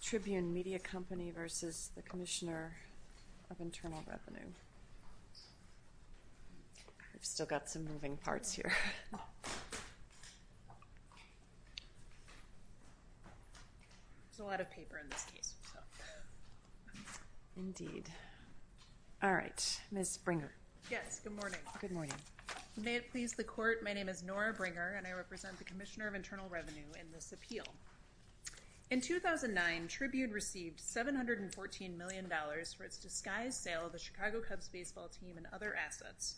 Tribune Media Company v. Commissioner of Internal Revenue Ms. Bringer Good morning. May it please the Court, my name is Nora Bringer, and I represent the Commissioner of Internal Revenue in this appeal. In 2009, Tribune received $714 million for its disguised sale of the Chicago Cubs baseball team and other assets.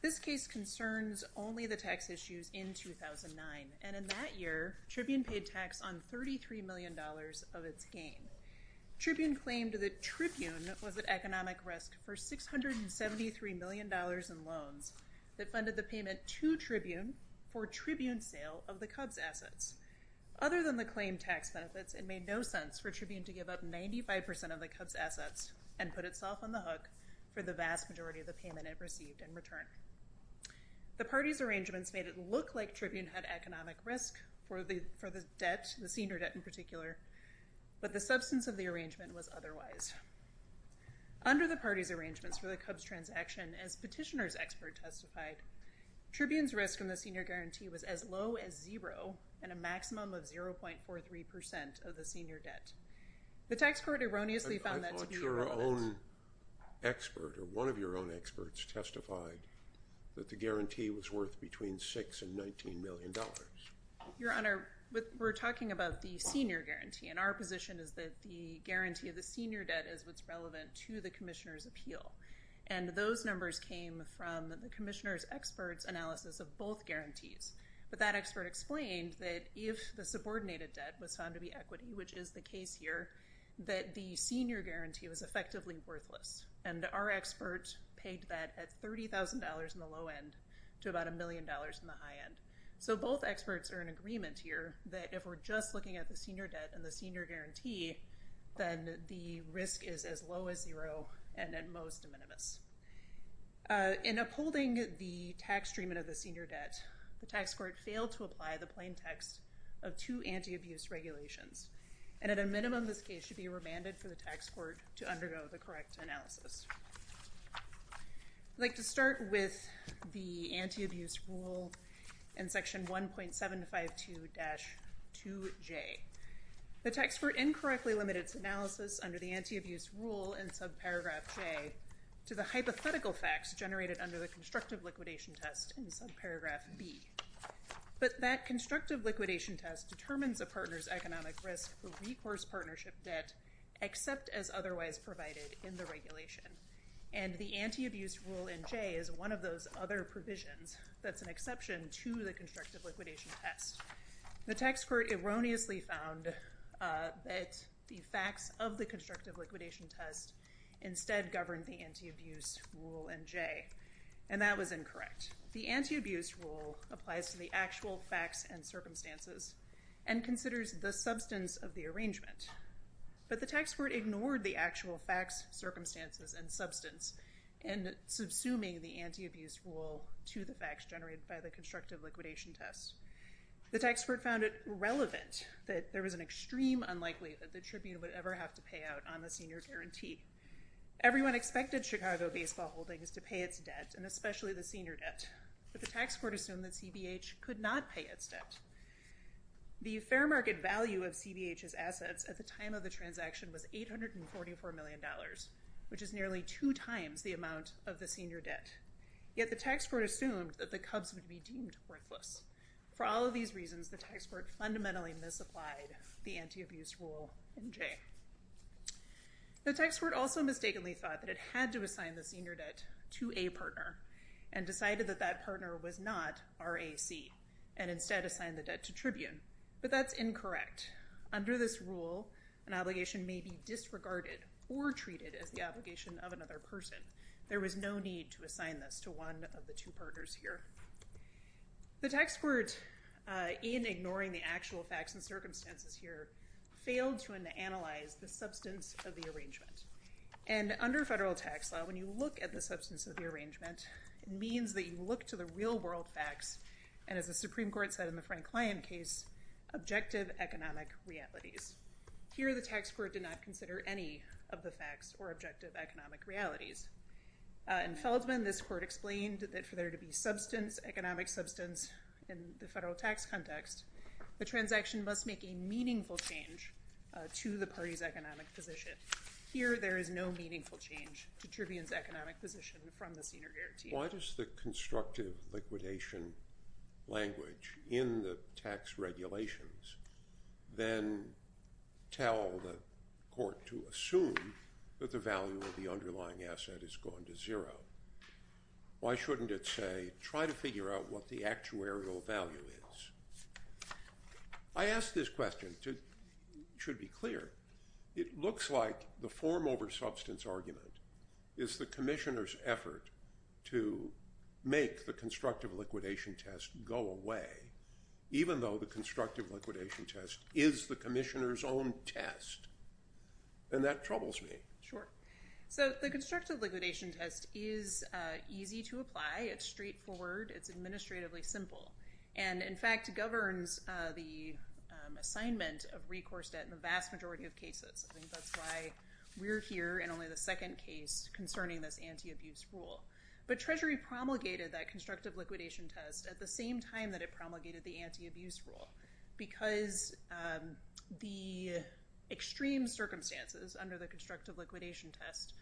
This case concerns only the tax issues in 2009, and in that year, Tribune paid tax on $33 million of its gain. Tribune claimed that Tribune was at economic risk for $673 million in loans that funded the payment to Tribune for Tribune's sale of the Cubs' assets. Other than the claimed tax benefits, it made no sense for Tribune to give up 95% of the Cubs' assets and put itself on the hook for the vast majority of the payment it received in return. The party's arrangements made it look like Tribune had economic risk for the debt, the senior debt in particular, but the substance of the arrangement was otherwise. Under the party's arrangements for the Cubs' transaction, as Petitioner's senior guarantee was as low as zero and a maximum of 0.43% of the senior debt. The tax court erroneously found that to be irrelevant. I thought your own expert or one of your own experts testified that the guarantee was worth between $6 and $19 million. Your Honor, we're talking about the senior guarantee, and our position is that the guarantee of the senior debt is what's relevant to the Commissioner's appeal, and those numbers came from the Commissioner's expert's analysis of both guarantees, but that expert explained that if the subordinated debt was found to be equity, which is the case here, that the senior guarantee was effectively worthless, and our expert paid that at $30,000 in the low end to about a million dollars in the high end. So both experts are in agreement here that if we're just looking at the senior debt and the senior guarantee, then the risk is as low as zero and at most minimus. In upholding the tax treatment of the senior debt, the tax court failed to apply the plaintext of two anti-abuse regulations, and at a minimum this case should be remanded for the tax court to undergo the correct analysis. I'd like to start with the anti-abuse rule in Section 1.752-2J. The tax court incorrectly limited its analysis under the anti-abuse rule in subparagraph J to the hypothetical facts generated under the constructive liquidation test in subparagraph B. But that constructive liquidation test determines a partner's economic risk for recourse partnership debt except as otherwise provided in the regulation, and the anti-abuse rule in J is one of those other provisions that's an exception to the constructive liquidation test. The tax court erroneously found that the facts of the constructive liquidation test instead governed the anti-abuse rule in J, and that was incorrect. The anti-abuse rule applies to the actual facts and circumstances and considers the substance of the arrangement, but the tax court ignored the actual facts, circumstances, and substance in subsuming the anti-abuse rule to the facts generated by the constructive liquidation test. The tax court found it irrelevant that there was an extreme unlikely that the tribute would ever have to pay out on the senior guarantee. Everyone expected Chicago baseball holdings to pay its debt, and especially the senior debt, but the tax court assumed that CBH could not pay its debt. The fair market value of CBH's assets at the time of the transaction was $844 million, which is nearly two times the amount of the senior debt. Yet the tax court assumed that the Cubs would be deemed worthless. For all of these reasons, the tax court fundamentally misapplied the anti-abuse rule in J. The tax court also mistakenly thought that it had to assign the senior debt to a partner and decided that that partner was not RAC and instead assigned the debt to Tribune, but that's incorrect. Under this rule, an obligation may be disregarded or treated as the obligation of another person. There was no need to assign this to one of the two partners here. The tax court, in ignoring the actual facts and circumstances here, failed to analyze the substance of the arrangement. Under federal tax law, when you look at the substance of the arrangement, it means that you look to the real world facts, and as the Supreme Court said in the Frank Klein case, objective economic realities. Here, the tax court did not consider any of the facts or In Feldman, this court explained that for there to be economic substance in the federal tax context, the transaction must make a meaningful change to the party's economic position. Here, there is no meaningful change to Tribune's economic position from the senior guarantee. Why does the constructive liquidation language in the tax regulations then tell the court to assume that the value of the underlying asset has gone to zero? Why shouldn't it say, try to figure out what the actuarial value is? I ask this question, it should be clear, it looks like the form over substance argument is the commissioner's effort to make the constructive liquidation test go away, even though the constructive liquidation test is the commissioner's own test, and that troubles me. Sure. So the constructive liquidation test is easy to apply, it's straightforward, it's administratively simple, and in fact governs the assignment of recourse debt in the vast majority of cases. I think that's why we're here in only the second case concerning this anti-abuse rule. But Treasury promulgated that constructive liquidation test at the extreme circumstances under the constructive liquidation test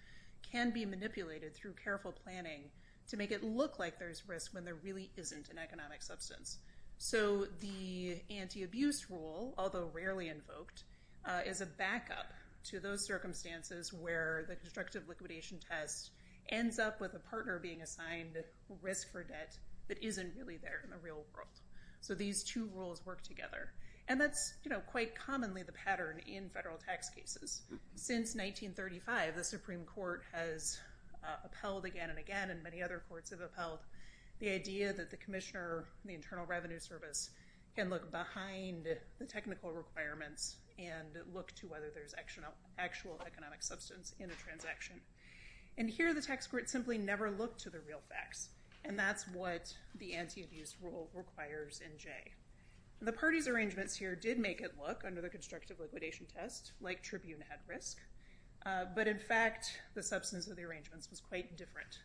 can be manipulated through careful planning to make it look like there's risk when there really isn't an economic substance. So the anti-abuse rule, although rarely invoked, is a backup to those circumstances where the constructive liquidation test ends up with a partner being assigned risk for debt that isn't really there in the real world. So these two rules work together. And that's quite commonly the pattern in federal tax cases. Since 1935, the Supreme Court has upheld again and again, and many other courts have upheld, the idea that the commissioner, the Internal Revenue Service, can look behind the technical requirements and look to whether there's actual economic substance in a transaction. And here the tax court simply never looked to the real facts, and that's what the anti-abuse rule requires in Jay. The party's arrangements here did make it look, under the constructive liquidation test, like Tribune had risk. But in fact, the substance of the arrangements was quite different.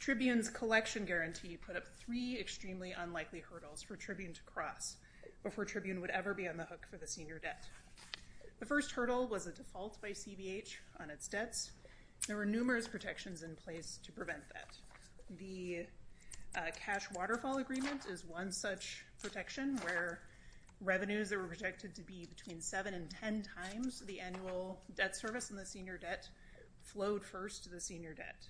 Tribune's collection guarantee put up three extremely unlikely hurdles for Tribune to cross before Tribune would ever be on the hook for the senior debt. The first hurdle was a default by CBH on its debts. There were numerous protections in place to prevent that. The Cash Waterfall Agreement is one such protection, where revenues that were projected to be between 7 and 10 times the annual debt service in the senior debt flowed first to the senior debt.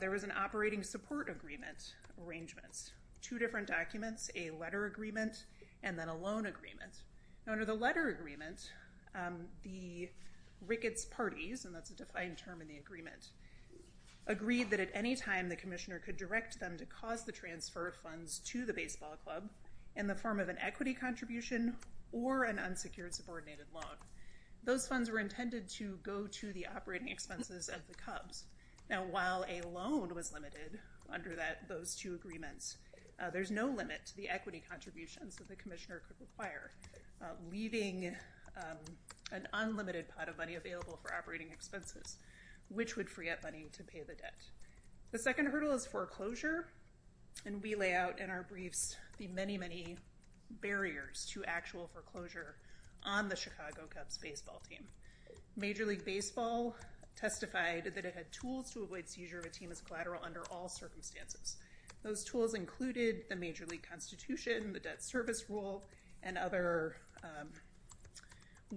There was an Operating Support Agreement arrangement. Two different documents, a letter agreement, and then a loan agreement. Now under the letter agreement, the Ricketts parties, and that's a defined term in the agreement, agreed that at any time the commissioner could direct them to cause the transfer of funds to the baseball club in the form of an equity contribution or an unsecured subordinated loan. Those funds were intended to go to the operating expenses of the Cubs. Now while a loan was limited under those two agreements, there's no limit to the equity contributions that the commissioner could require. Leaving an unlimited pot of money available for operating expenses, which would free up money to pay the debt. The second hurdle is foreclosure, and we lay out in our briefs the many, many barriers to actual foreclosure on the Chicago Cubs baseball team. Major League Baseball testified that it had tools to avoid seizure of a team as collateral under all circumstances. Those tools included the Major League Constitution, the Debt Service Rule, and other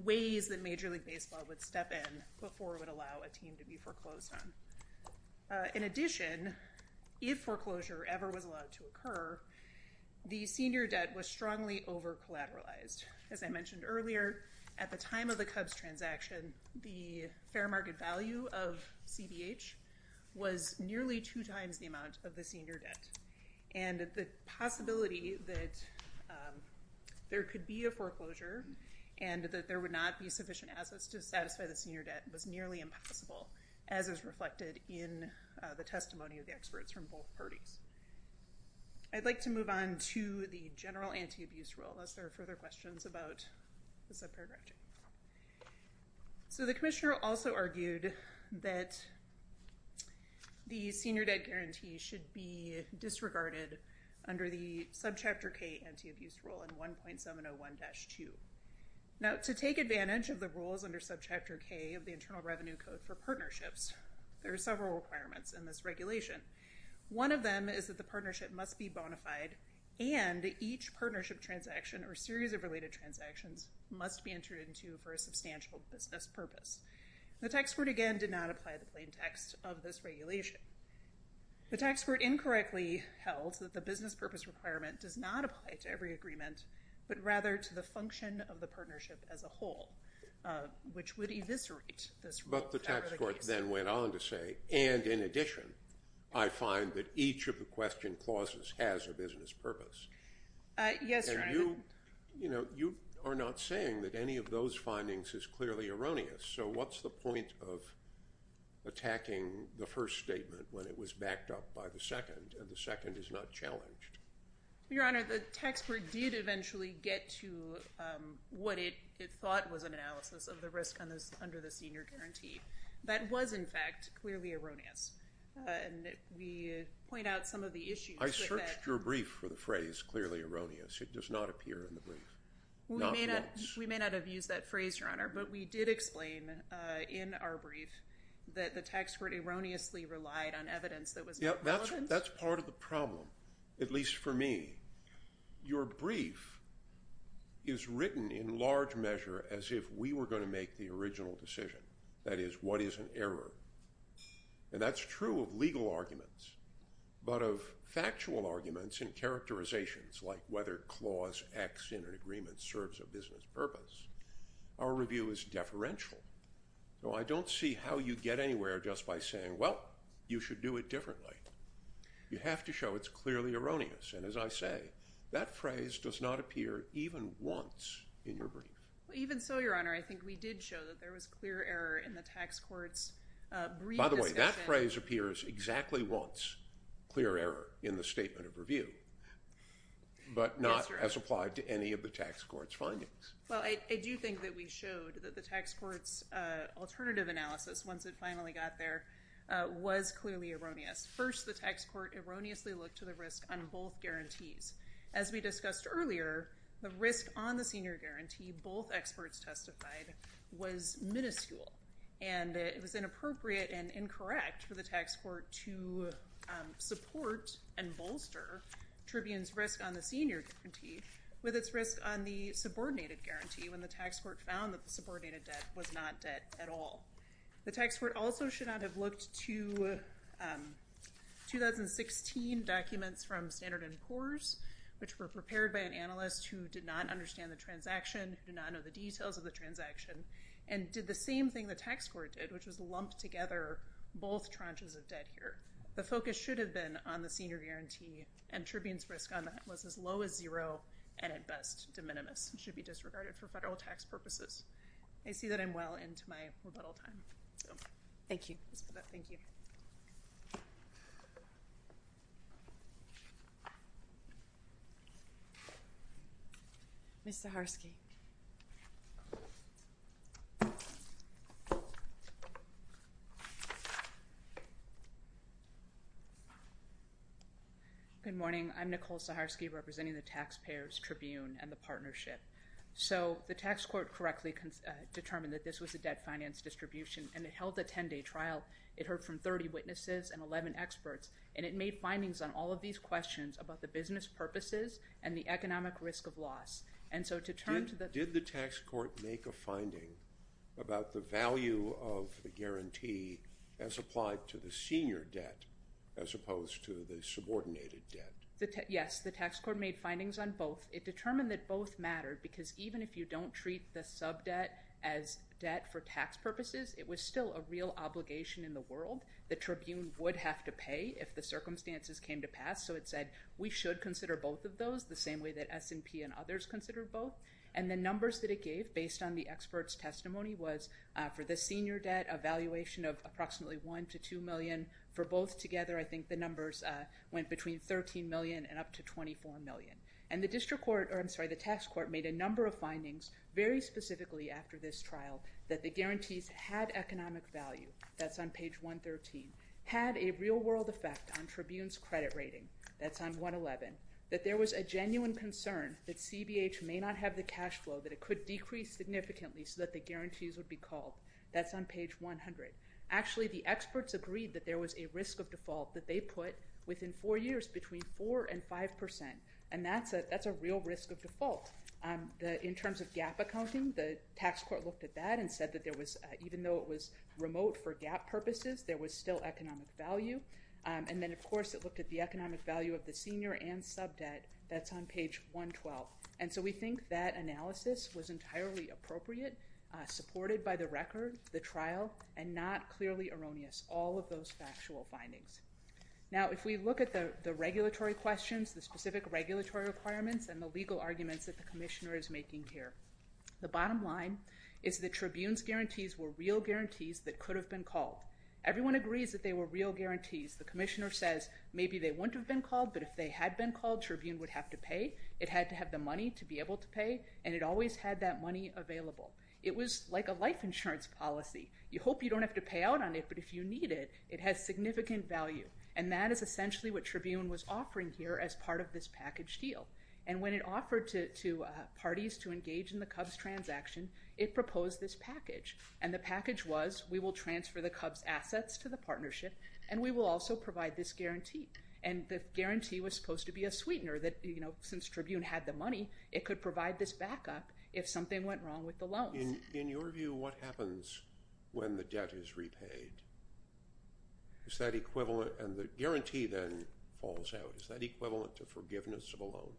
ways that Major League Baseball would step in before it would allow a team to be foreclosed on. In addition, if foreclosure ever was allowed to occur, the senior debt was strongly over collateralized. As I mentioned earlier, at the time of the Cubs transaction, the fair market value of CBH was nearly two times the amount of the senior debt, and the possibility that there could be a foreclosure and that there would not be sufficient assets to satisfy the senior debt was nearly impossible, as is reflected in the testimony of the experts from both parties. I'd like to move on to the general anti-abuse rule unless there are further questions about the subparagraph check. So the commissioner also argued that the senior debt guarantee should be disregarded under the Subchapter K anti-abuse rule in 1.701-2. Now, to take advantage of the rules under Subchapter K of the Internal Revenue Code for Partnerships, there are several requirements in this regulation. One of them is that the partnership must be bona fide and each partnership transaction or series of related transactions must be entered into for a substantial business purpose. The tax court, again, did not apply the plain text of this regulation. The tax court incorrectly held that the business purpose requirement does not apply to every agreement but rather to the function of the partnership as a whole, which would eviscerate this rule. But the tax court then went on to say, and in addition, I find that each of the question clauses has a business purpose. And you are not saying that any of those findings is clearly erroneous, so what's the point of attacking the first statement when it was backed up by the second and the second is not challenged? Your Honor, the tax court did eventually get to what it thought was an analysis of the risk under the senior guarantee. That was, in fact, clearly erroneous. And we point out some of the issues. I searched your brief for the phrase clearly erroneous. It does not appear in the brief. We may not have used that phrase, Your Honor, but we did explain in our brief that the tax court erroneously relied on evidence that was not relevant. That's part of the problem, at least for me. Your brief is written in large measure as if we were going to make the original decision. That is, what is an error? And that's true of legal arguments, but of factual arguments and characterizations, like whether clause X in an agreement serves a business purpose, our review is deferential. So I don't see how you get anywhere just by saying, well, you should do it differently. You have to show it's clearly erroneous. And as I say, that phrase does not appear even once in your brief. Even so, Your Honor, I think we did show that there was clear error in the tax court's brief discussion. By the way, that phrase appears exactly once, clear error in the statement of review, but not as applied to any of the tax court's findings. Well, I do think that we showed that the tax court's alternative analysis, once it finally got there, was clearly erroneous. First, the tax court erroneously looked to the risk on both guarantees. As we discussed earlier, the risk on the senior guarantee both experts testified was miniscule, and it was inappropriate and incorrect for the tax court to support and bolster Tribune's risk on the senior guarantee with its risk on the subordinated guarantee, when the tax court found that the subordinated debt was not debt at all. The tax court also should not have looked to 2016 documents from Standard & Poor's, which were prepared by an analyst who did not understand the transaction, who did not know the details of the transaction, and did the same thing the tax court did, which was lump together both tranches of debt here. The focus should have been on the senior guarantee, and Tribune's risk on that was as low as zero and, at best, de minimis and should be disregarded for federal tax purposes. I see that I'm well into my rebuttal time. Thank you. Thank you. Ms. Saharsky. Good morning. I'm Nicole Saharsky representing the Taxpayers' Tribune and the partnership. So the tax court correctly determined that this was a debt finance distribution, and it held a 10-day trial. It heard from 30 witnesses and 11 experts, and it made findings on all of these questions about the business purposes and the economic risk of loss. Did the tax court make a finding about the value of the guarantee as applied to the senior debt as opposed to the subordinated debt? Yes, the tax court made findings on both. It determined that both mattered because even if you don't treat the subdebt as debt for tax purposes, it was still a real obligation in the world. The Tribune would have to pay if the circumstances came to pass, so it said we should consider both of those the same way that S&P and others consider both. And the numbers that it gave based on the experts' testimony was for the senior debt, a valuation of approximately $1 million to $2 million. For both together, I think the numbers went between $13 million and up to $24 million. And the district court or, I'm sorry, the tax court made a number of findings very specifically after this trial that the guarantees had economic value. That's on page 113. Had a real-world effect on Tribune's credit rating. That's on 111. That there was a genuine concern that CBH may not have the cash flow, that it could decrease significantly so that the guarantees would be called. That's on page 100. Actually, the experts agreed that there was a risk of default that they put within four years between 4% and 5%, and that's a real risk of default. In terms of GAAP accounting, the tax court looked at that and said that even though it was remote for GAAP purposes, there was still economic value. And then, of course, it looked at the economic value of the senior and subdebt. That's on page 112. And so we think that analysis was entirely appropriate, supported by the record, the trial, and not clearly erroneous, all of those factual findings. Now, if we look at the regulatory questions, the specific regulatory requirements, and the legal arguments that the commissioner is making here, the bottom line is that Tribune's guarantees were real guarantees that could have been called. Everyone agrees that they were real guarantees. The commissioner says maybe they wouldn't have been called, but if they had been called, Tribune would have to pay. It had to have the money to be able to pay, and it always had that money available. It was like a life insurance policy. You hope you don't have to pay out on it, but if you need it, it has significant value, and that is essentially what Tribune was offering here as part of this package deal. And when it offered to parties to engage in the Cubs transaction, it proposed this package, and the package was we will transfer the Cubs' assets to the partnership, and we will also provide this guarantee. And the guarantee was supposed to be a sweetener that, you know, since Tribune had the money, it could provide this backup if something went wrong with the loans. In your view, what happens when the debt is repaid? Is that equivalent? And the guarantee then falls out. Is that equivalent to forgiveness of a loan?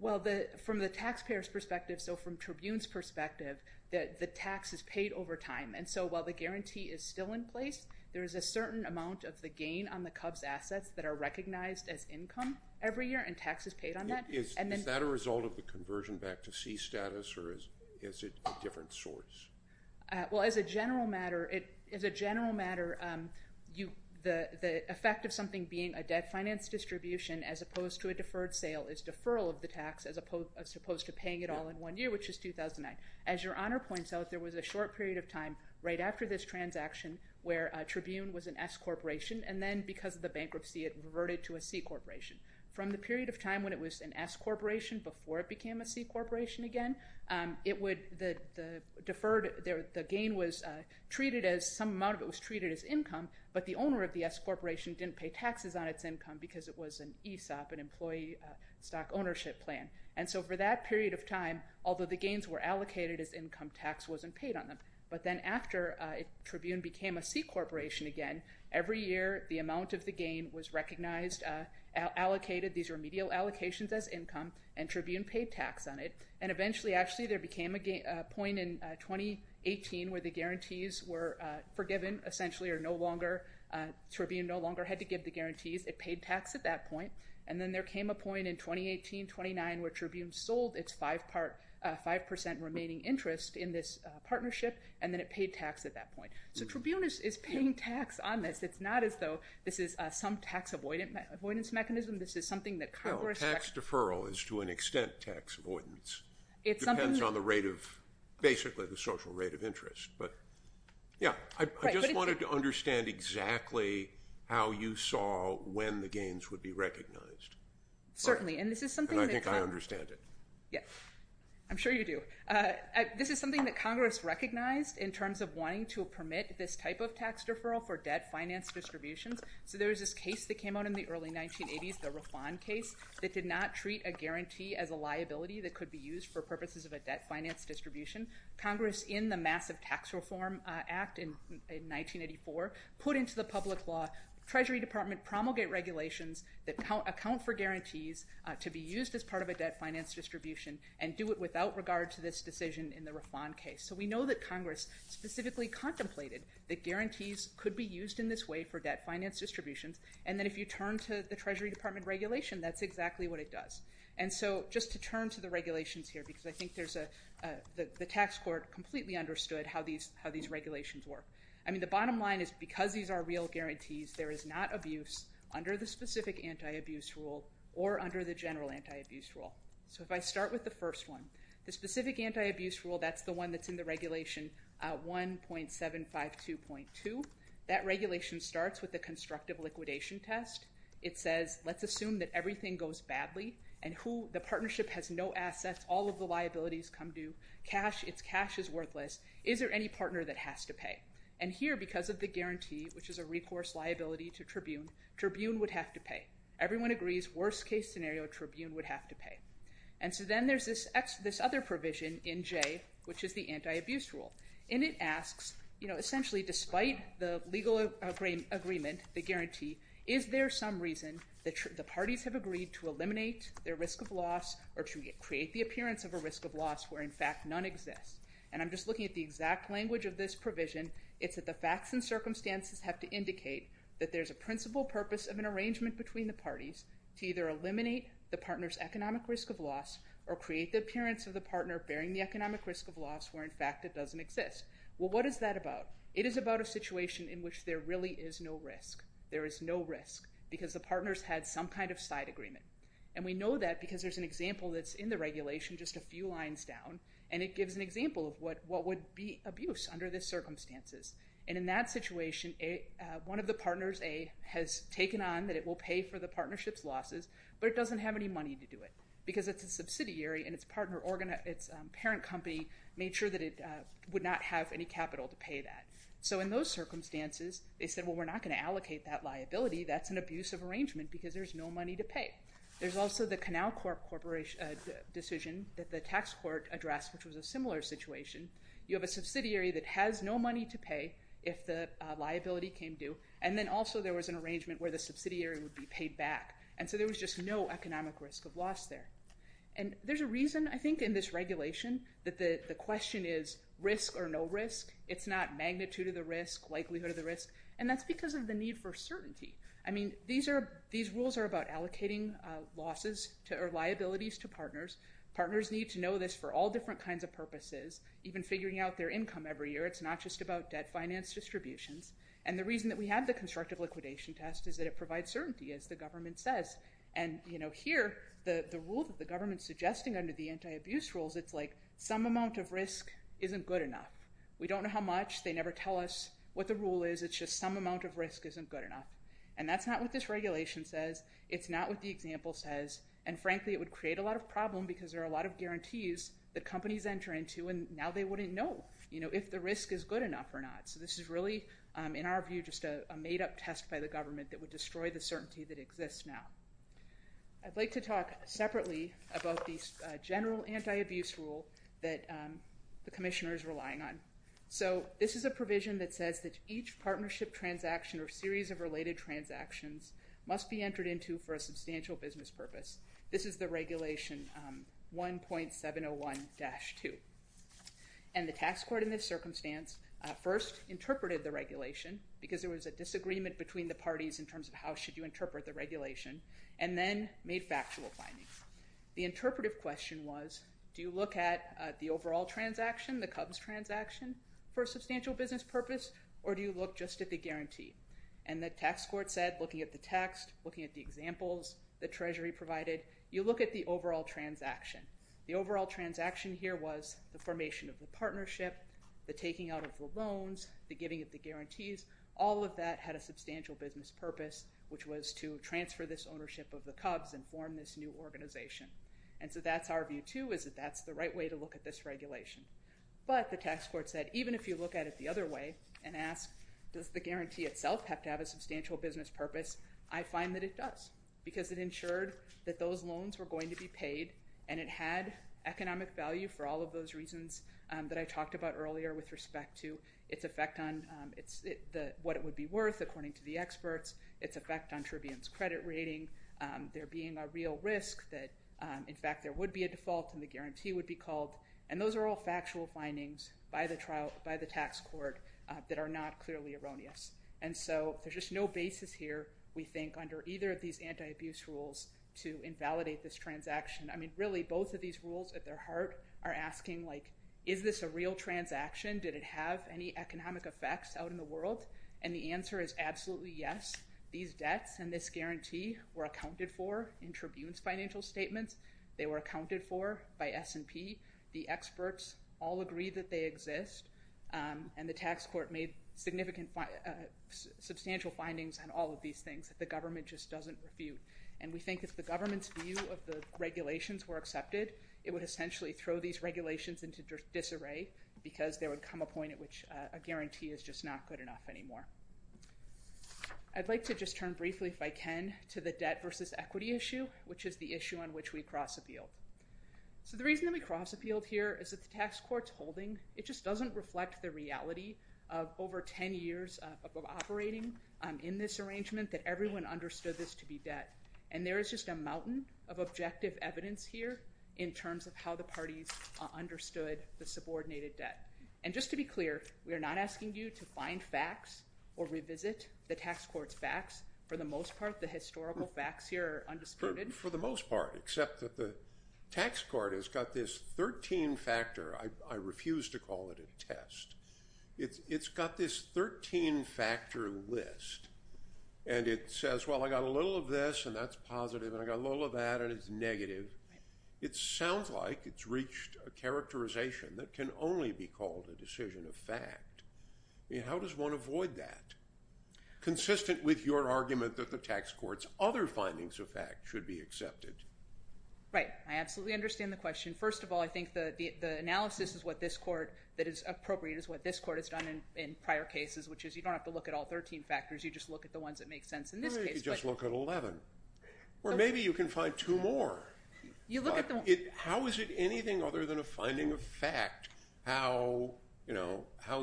Well, from the taxpayer's perspective, so from Tribune's perspective, the tax is paid over time, and so while the guarantee is still in place, there is a certain amount of the gain on the Cubs' assets that are recognized as income every year, and tax is paid on that. Is that a result of the conversion back to C status, or is it a different source? Well, as a general matter, the effect of something being a debt finance distribution as opposed to a deferred sale is deferral of the tax as opposed to paying it all in one year, which is 2009. As Your Honor points out, there was a short period of time right after this transaction where Tribune was an S corporation, and then because of the bankruptcy, it reverted to a C corporation. From the period of time when it was an S corporation before it became a C corporation again, the gain was treated as some amount of it was treated as income, but the owner of the S corporation didn't pay taxes on its income because it was an ESOP, an employee stock ownership plan. And so for that period of time, although the gains were allocated as income, tax wasn't paid on them. But then after Tribune became a C corporation again, every year the amount of the gain was recognized, allocated, these remedial allocations as income, and Tribune paid tax on it. And eventually, actually, there became a point in 2018 where the guarantees were forgiven, essentially, or no longer, Tribune no longer had to give the guarantees. It paid tax at that point. And then there came a point in 2018-29 where Tribune sold its 5% remaining interest in this partnership, and then it paid tax at that point. So Tribune is paying tax on this. It's not as though this is some tax avoidance mechanism. This is something that Congress recognized. Well, tax deferral is, to an extent, tax avoidance. It depends on the rate of, basically, the social rate of interest. But, yeah, I just wanted to understand exactly how you saw when the gains would be recognized. Certainly, and this is something that- And I think I understand it. Yeah, I'm sure you do. This is something that Congress recognized in terms of wanting to permit this type of tax deferral for debt finance distributions. So there was this case that came out in the early 1980s, the Refond case, that did not treat a guarantee as a liability that could be used for purposes of a debt finance distribution. Congress, in the massive tax reform act in 1984, put into the public law Treasury Department promulgate regulations that account for guarantees to be used as part of a debt finance distribution and do it without regard to this decision in the Refond case. So we know that Congress specifically contemplated that guarantees could be used in this way for debt finance distributions, and that if you turn to the Treasury Department regulation, that's exactly what it does. And so, just to turn to the regulations here, because I think there's a- the tax court completely understood how these regulations work. I mean, the bottom line is, because these are real guarantees, there is not abuse under the specific anti-abuse rule or under the general anti-abuse rule. So if I start with the first one, the specific anti-abuse rule, that's the one that's in the regulation 1.752.2. That regulation starts with the constructive liquidation test. It says, let's assume that everything goes badly and who- the partnership has no assets. All of the liabilities come due. Cash- it's cash is worthless. Is there any partner that has to pay? And here, because of the guarantee, which is a recourse liability to Tribune, Tribune would have to pay. Everyone agrees, worst case scenario, Tribune would have to pay. And so then there's this other provision in J, which is the anti-abuse rule. And it asks, you know, essentially, despite the legal agreement, the guarantee, is there some reason that the parties have agreed to eliminate their risk of loss or to create the appearance of a risk of loss where, in fact, none exists? And I'm just looking at the exact language of this provision. It's that the facts and circumstances have to indicate that there's a principal purpose of an arrangement between the parties to either eliminate the partner's economic risk of loss or create the appearance of the partner bearing the economic risk of loss where, in fact, it doesn't exist. Well, what is that about? It is about a situation in which there really is no risk. There is no risk because the partners had some kind of side agreement. And we know that because there's an example that's in the regulation just a few lines down, and it gives an example of what would be abuse under the circumstances. And in that situation, one of the partners, A, has taken on that it will pay for the partnership's losses, but it doesn't have any money to do it because it's a subsidiary and its parent company made sure that it would not have any capital to pay that. So in those circumstances, they said, well, we're not going to allocate that liability. That's an abusive arrangement because there's no money to pay. There's also the Canal Corp decision that the tax court addressed, which was a similar situation. You have a subsidiary that has no money to pay if the liability came due, and then also there was an arrangement where the subsidiary would be paid back. And so there was just no economic risk of loss there. And there's a reason, I think, in this regulation that the question is risk or no risk. It's not magnitude of the risk, likelihood of the risk, and that's because of the need for certainty. I mean, these rules are about allocating losses or liabilities to partners. Partners need to know this for all different kinds of purposes, even figuring out their income every year. It's not just about debt finance distributions. And the reason that we have the constructive liquidation test is that it provides certainty, as the government says. And here, the rule that the government's suggesting under the anti-abuse rules, it's like some amount of risk isn't good enough. We don't know how much. They never tell us what the rule is. It's just some amount of risk isn't good enough. And that's not what this regulation says. It's not what the example says. And, frankly, it would create a lot of problem because there are a lot of guarantees that companies enter into, and now they wouldn't know if the risk is good enough or not. So this is really, in our view, just a made-up test by the government that would destroy the certainty that exists now. I'd like to talk separately about the general anti-abuse rule that the commissioner is relying on. So this is a provision that says that each partnership transaction or series of related transactions must be entered into for a substantial business purpose. This is the Regulation 1.701-2. And the tax court in this circumstance first interpreted the regulation because there was a disagreement between the parties in terms of how should you interpret the regulation, and then made factual findings. The interpretive question was, do you look at the overall transaction, the Cubs transaction, for a substantial business purpose, or do you look just at the guarantee? And the tax court said, looking at the text, looking at the examples the Treasury provided, you look at the overall transaction. The overall transaction here was the formation of the partnership, the taking out of the loans, the giving of the guarantees. All of that had a substantial business purpose, which was to transfer this ownership of the Cubs and form this new organization. And so that's our view, too, is that that's the right way to look at this regulation. But the tax court said, even if you look at it the other way and ask, does the guarantee itself have to have a substantial business purpose, I find that it does because it ensured that those loans were going to be paid, and it had economic value for all of those reasons that I talked about earlier with respect to its effect on what it would be worth according to the experts, its effect on Tribune's credit rating, there being a real risk that, in fact, there would be a default and the guarantee would be called. And those are all factual findings by the tax court that are not clearly erroneous. And so there's just no basis here, we think, under either of these anti-abuse rules to invalidate this transaction. I mean, really, both of these rules at their heart are asking, like, is this a real transaction? Did it have any economic effects out in the world? And the answer is absolutely yes. These debts and this guarantee were accounted for in Tribune's financial statements. They were accounted for by S&P. The experts all agree that they exist, and the tax court made substantial findings on all of these things that the government just doesn't refute. And we think if the government's view of the regulations were accepted, it would essentially throw these regulations into disarray because there would come a point at which a guarantee is just not good enough anymore. I'd like to just turn briefly, if I can, to the debt versus equity issue, which is the issue on which we cross-appealed. So the reason that we cross-appealed here is that the tax court's holding, it just doesn't reflect the reality of over 10 years of operating in this arrangement that everyone understood this to be debt. And there is just a mountain of objective evidence here in terms of how the parties understood the subordinated debt. And just to be clear, we are not asking you to find facts or revisit the tax court's facts. For the most part, the historical facts here are undisputed. For the most part, except that the tax court has got this 13-factor. I refuse to call it a test. It's got this 13-factor list, and it says, well, I got a little of this, and that's positive, and I got a little of that, and it's negative. It sounds like it's reached a characterization that can only be called a decision of fact. How does one avoid that? Consistent with your argument that the tax court's other findings of fact should be accepted. Right. I absolutely understand the question. First of all, I think the analysis that is appropriate is what this court has done in prior cases, which is you don't have to look at all 13 factors. You just look at the ones that make sense in this case. Or maybe you can find two more. How is it anything other than a finding of fact how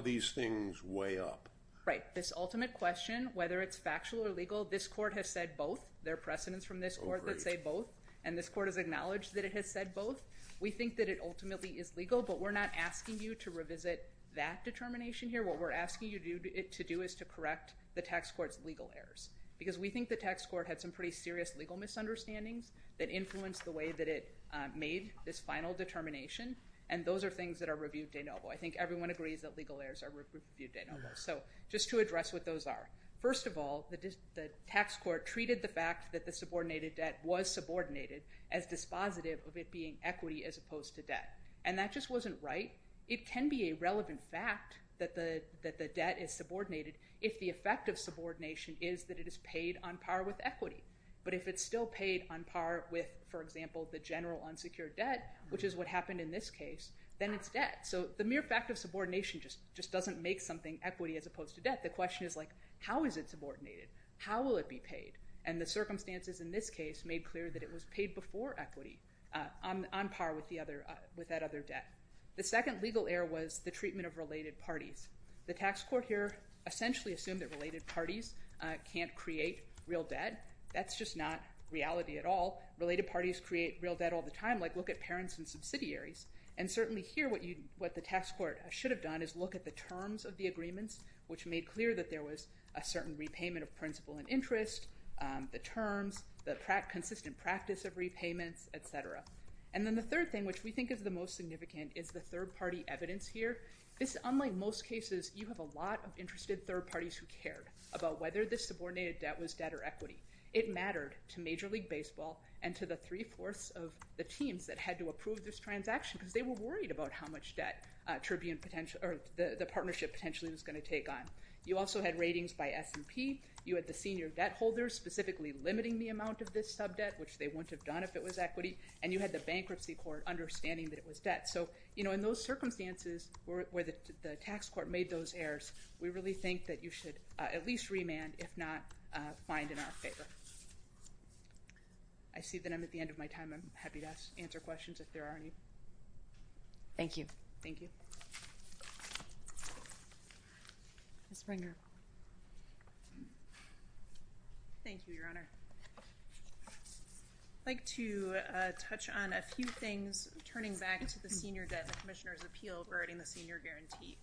these things weigh up? Right. This ultimate question, whether it's factual or legal, this court has said both. There are precedents from this court that say both, and this court has acknowledged that it has said both. We think that it ultimately is legal, but we're not asking you to revisit that determination here. What we're asking you to do is to correct the tax court's legal errors because we think the tax court had some pretty serious legal misunderstandings that influenced the way that it made this final determination, and those are things that are reviewed de novo. I think everyone agrees that legal errors are reviewed de novo. So just to address what those are, first of all, the tax court treated the fact that the subordinated debt was subordinated as dispositive of it being equity as opposed to debt, and that just wasn't right. It can be a relevant fact that the debt is subordinated if the effect of subordination is that it is paid on par with equity, but if it's still paid on par with, for example, the general unsecured debt, which is what happened in this case, then it's debt. So the mere fact of subordination just doesn't make something equity as opposed to debt. The question is, like, how is it subordinated? How will it be paid? And the circumstances in this case made clear that it was paid before equity on par with that other debt. The second legal error was the treatment of related parties. The tax court here essentially assumed that related parties can't create real debt. That's just not reality at all. Related parties create real debt all the time, like look at parents and subsidiaries. And certainly here what the tax court should have done is look at the terms of the agreements, which made clear that there was a certain repayment of principal and interest, the terms, the consistent practice of repayments, et cetera. And then the third thing, which we think is the most significant, is the third-party evidence here. Unlike most cases, you have a lot of interested third parties who cared about whether this subordinated debt was debt or equity. It mattered to Major League Baseball and to the three-fourths of the teams that had to approve this transaction because they were worried about how much debt the partnership potentially was going to take on. You also had ratings by S&P. You had the senior debt holders specifically limiting the amount of this subdebt, which they wouldn't have done if it was equity, and you had the bankruptcy court understanding that it was debt. So, you know, in those circumstances where the tax court made those errors, we really think that you should at least remand, if not find in our favor. I see that I'm at the end of my time. I'm happy to answer questions if there are any. Thank you. Thank you. Ms. Springer. Thank you, Your Honor. I'd like to touch on a few things, turning back to the senior debt and the commissioner's appeal regarding the senior guarantee.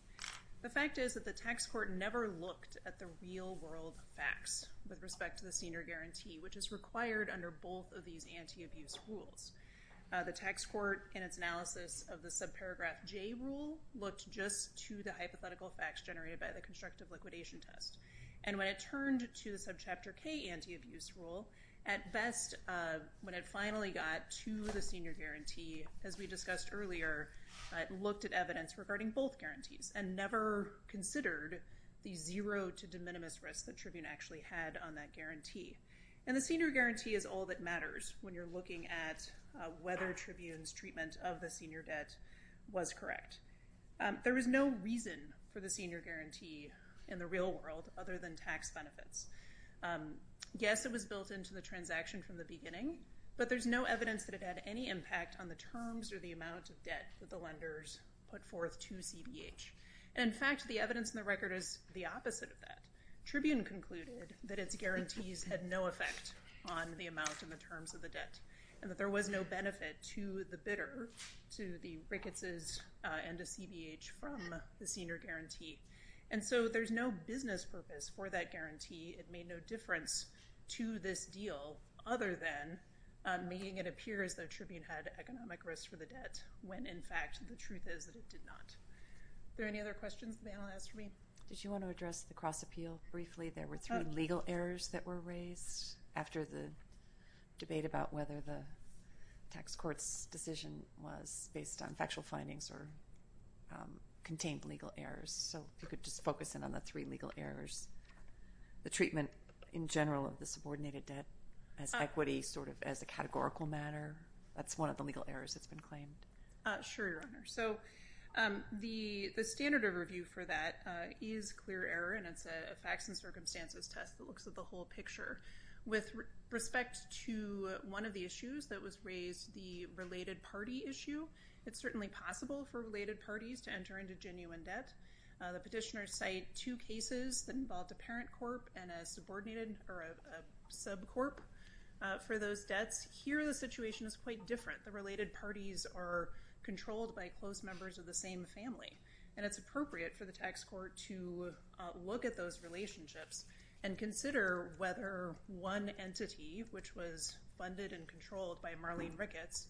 The fact is that the tax court never looked at the real-world facts with respect to the senior guarantee, which is required under both of these anti-abuse rules. The tax court, in its analysis of the subparagraph J rule, looked just to the hypothetical facts generated by the constructive liquidation test. And when it turned to the subchapter K anti-abuse rule, at best, when it finally got to the senior guarantee, as we discussed earlier, it looked at evidence regarding both guarantees and never considered the zero to de minimis risk that Tribune actually had on that guarantee. And the senior guarantee is all that matters when you're looking at whether Tribune's treatment of the senior debt was correct. There is no reason for the senior guarantee in the real world other than tax benefits. Yes, it was built into the transaction from the beginning, but there's no evidence that it had any impact on the terms or the amount of debt that the lenders put forth to CBH. And, in fact, the evidence in the record is the opposite of that. Tribune concluded that its guarantees had no effect on the amount and the terms of the debt, and that there was no benefit to the bidder, to the Rickettses and to CBH from the senior guarantee. And so there's no business purpose for that guarantee. It made no difference to this deal other than making it appear as though Tribune had economic risk for the debt, when, in fact, the truth is that it did not. Are there any other questions the panel has for me? Did you want to address the cross-appeal briefly? There were three legal errors that were raised after the debate about whether the tax court's decision was based on factual findings or contained legal errors, so if you could just focus in on the three legal errors. The treatment, in general, of the subordinated debt as equity, sort of as a categorical matter, that's one of the legal errors that's been claimed. Sure, Your Honor. So the standard of review for that is clear error, and it's a facts and circumstances test that looks at the whole picture. With respect to one of the issues that was raised, the related party issue, it's certainly possible for related parties to enter into genuine debt. The petitioners cite two cases that involved a parent corp and a subcorp for those debts. Here, the situation is quite different. The related parties are controlled by close members of the same family, and it's appropriate for the tax court to look at those relationships and consider whether one entity, which was funded and controlled by Marlene Ricketts,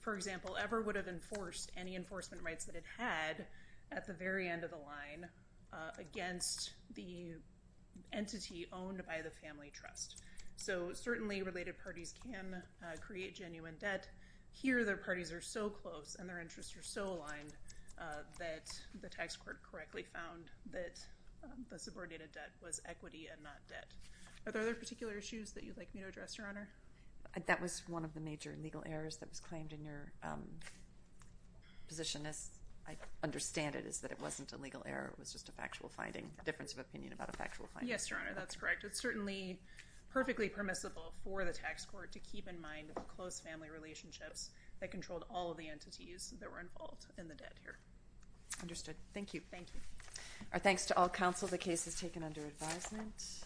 for example, ever would have enforced any enforcement rights that it had at the very end of the line against the entity owned by the family trust. So certainly related parties can create genuine debt. Here, their parties are so close and their interests are so aligned that the tax court correctly found that the subordinated debt was equity and not debt. Are there other particular issues that you'd like me to address, Your Honor? That was one of the major legal errors that was claimed in your position. As I understand it, it's that it wasn't a legal error. It was just a factual finding, a difference of opinion about a factual finding. Yes, Your Honor, that's correct. It's certainly perfectly permissible for the tax court to keep in mind the close family relationships that controlled all of the entities that were involved in the debt here. Understood. Thank you. Thank you. Our thanks to all counsel. The case is taken under advisement.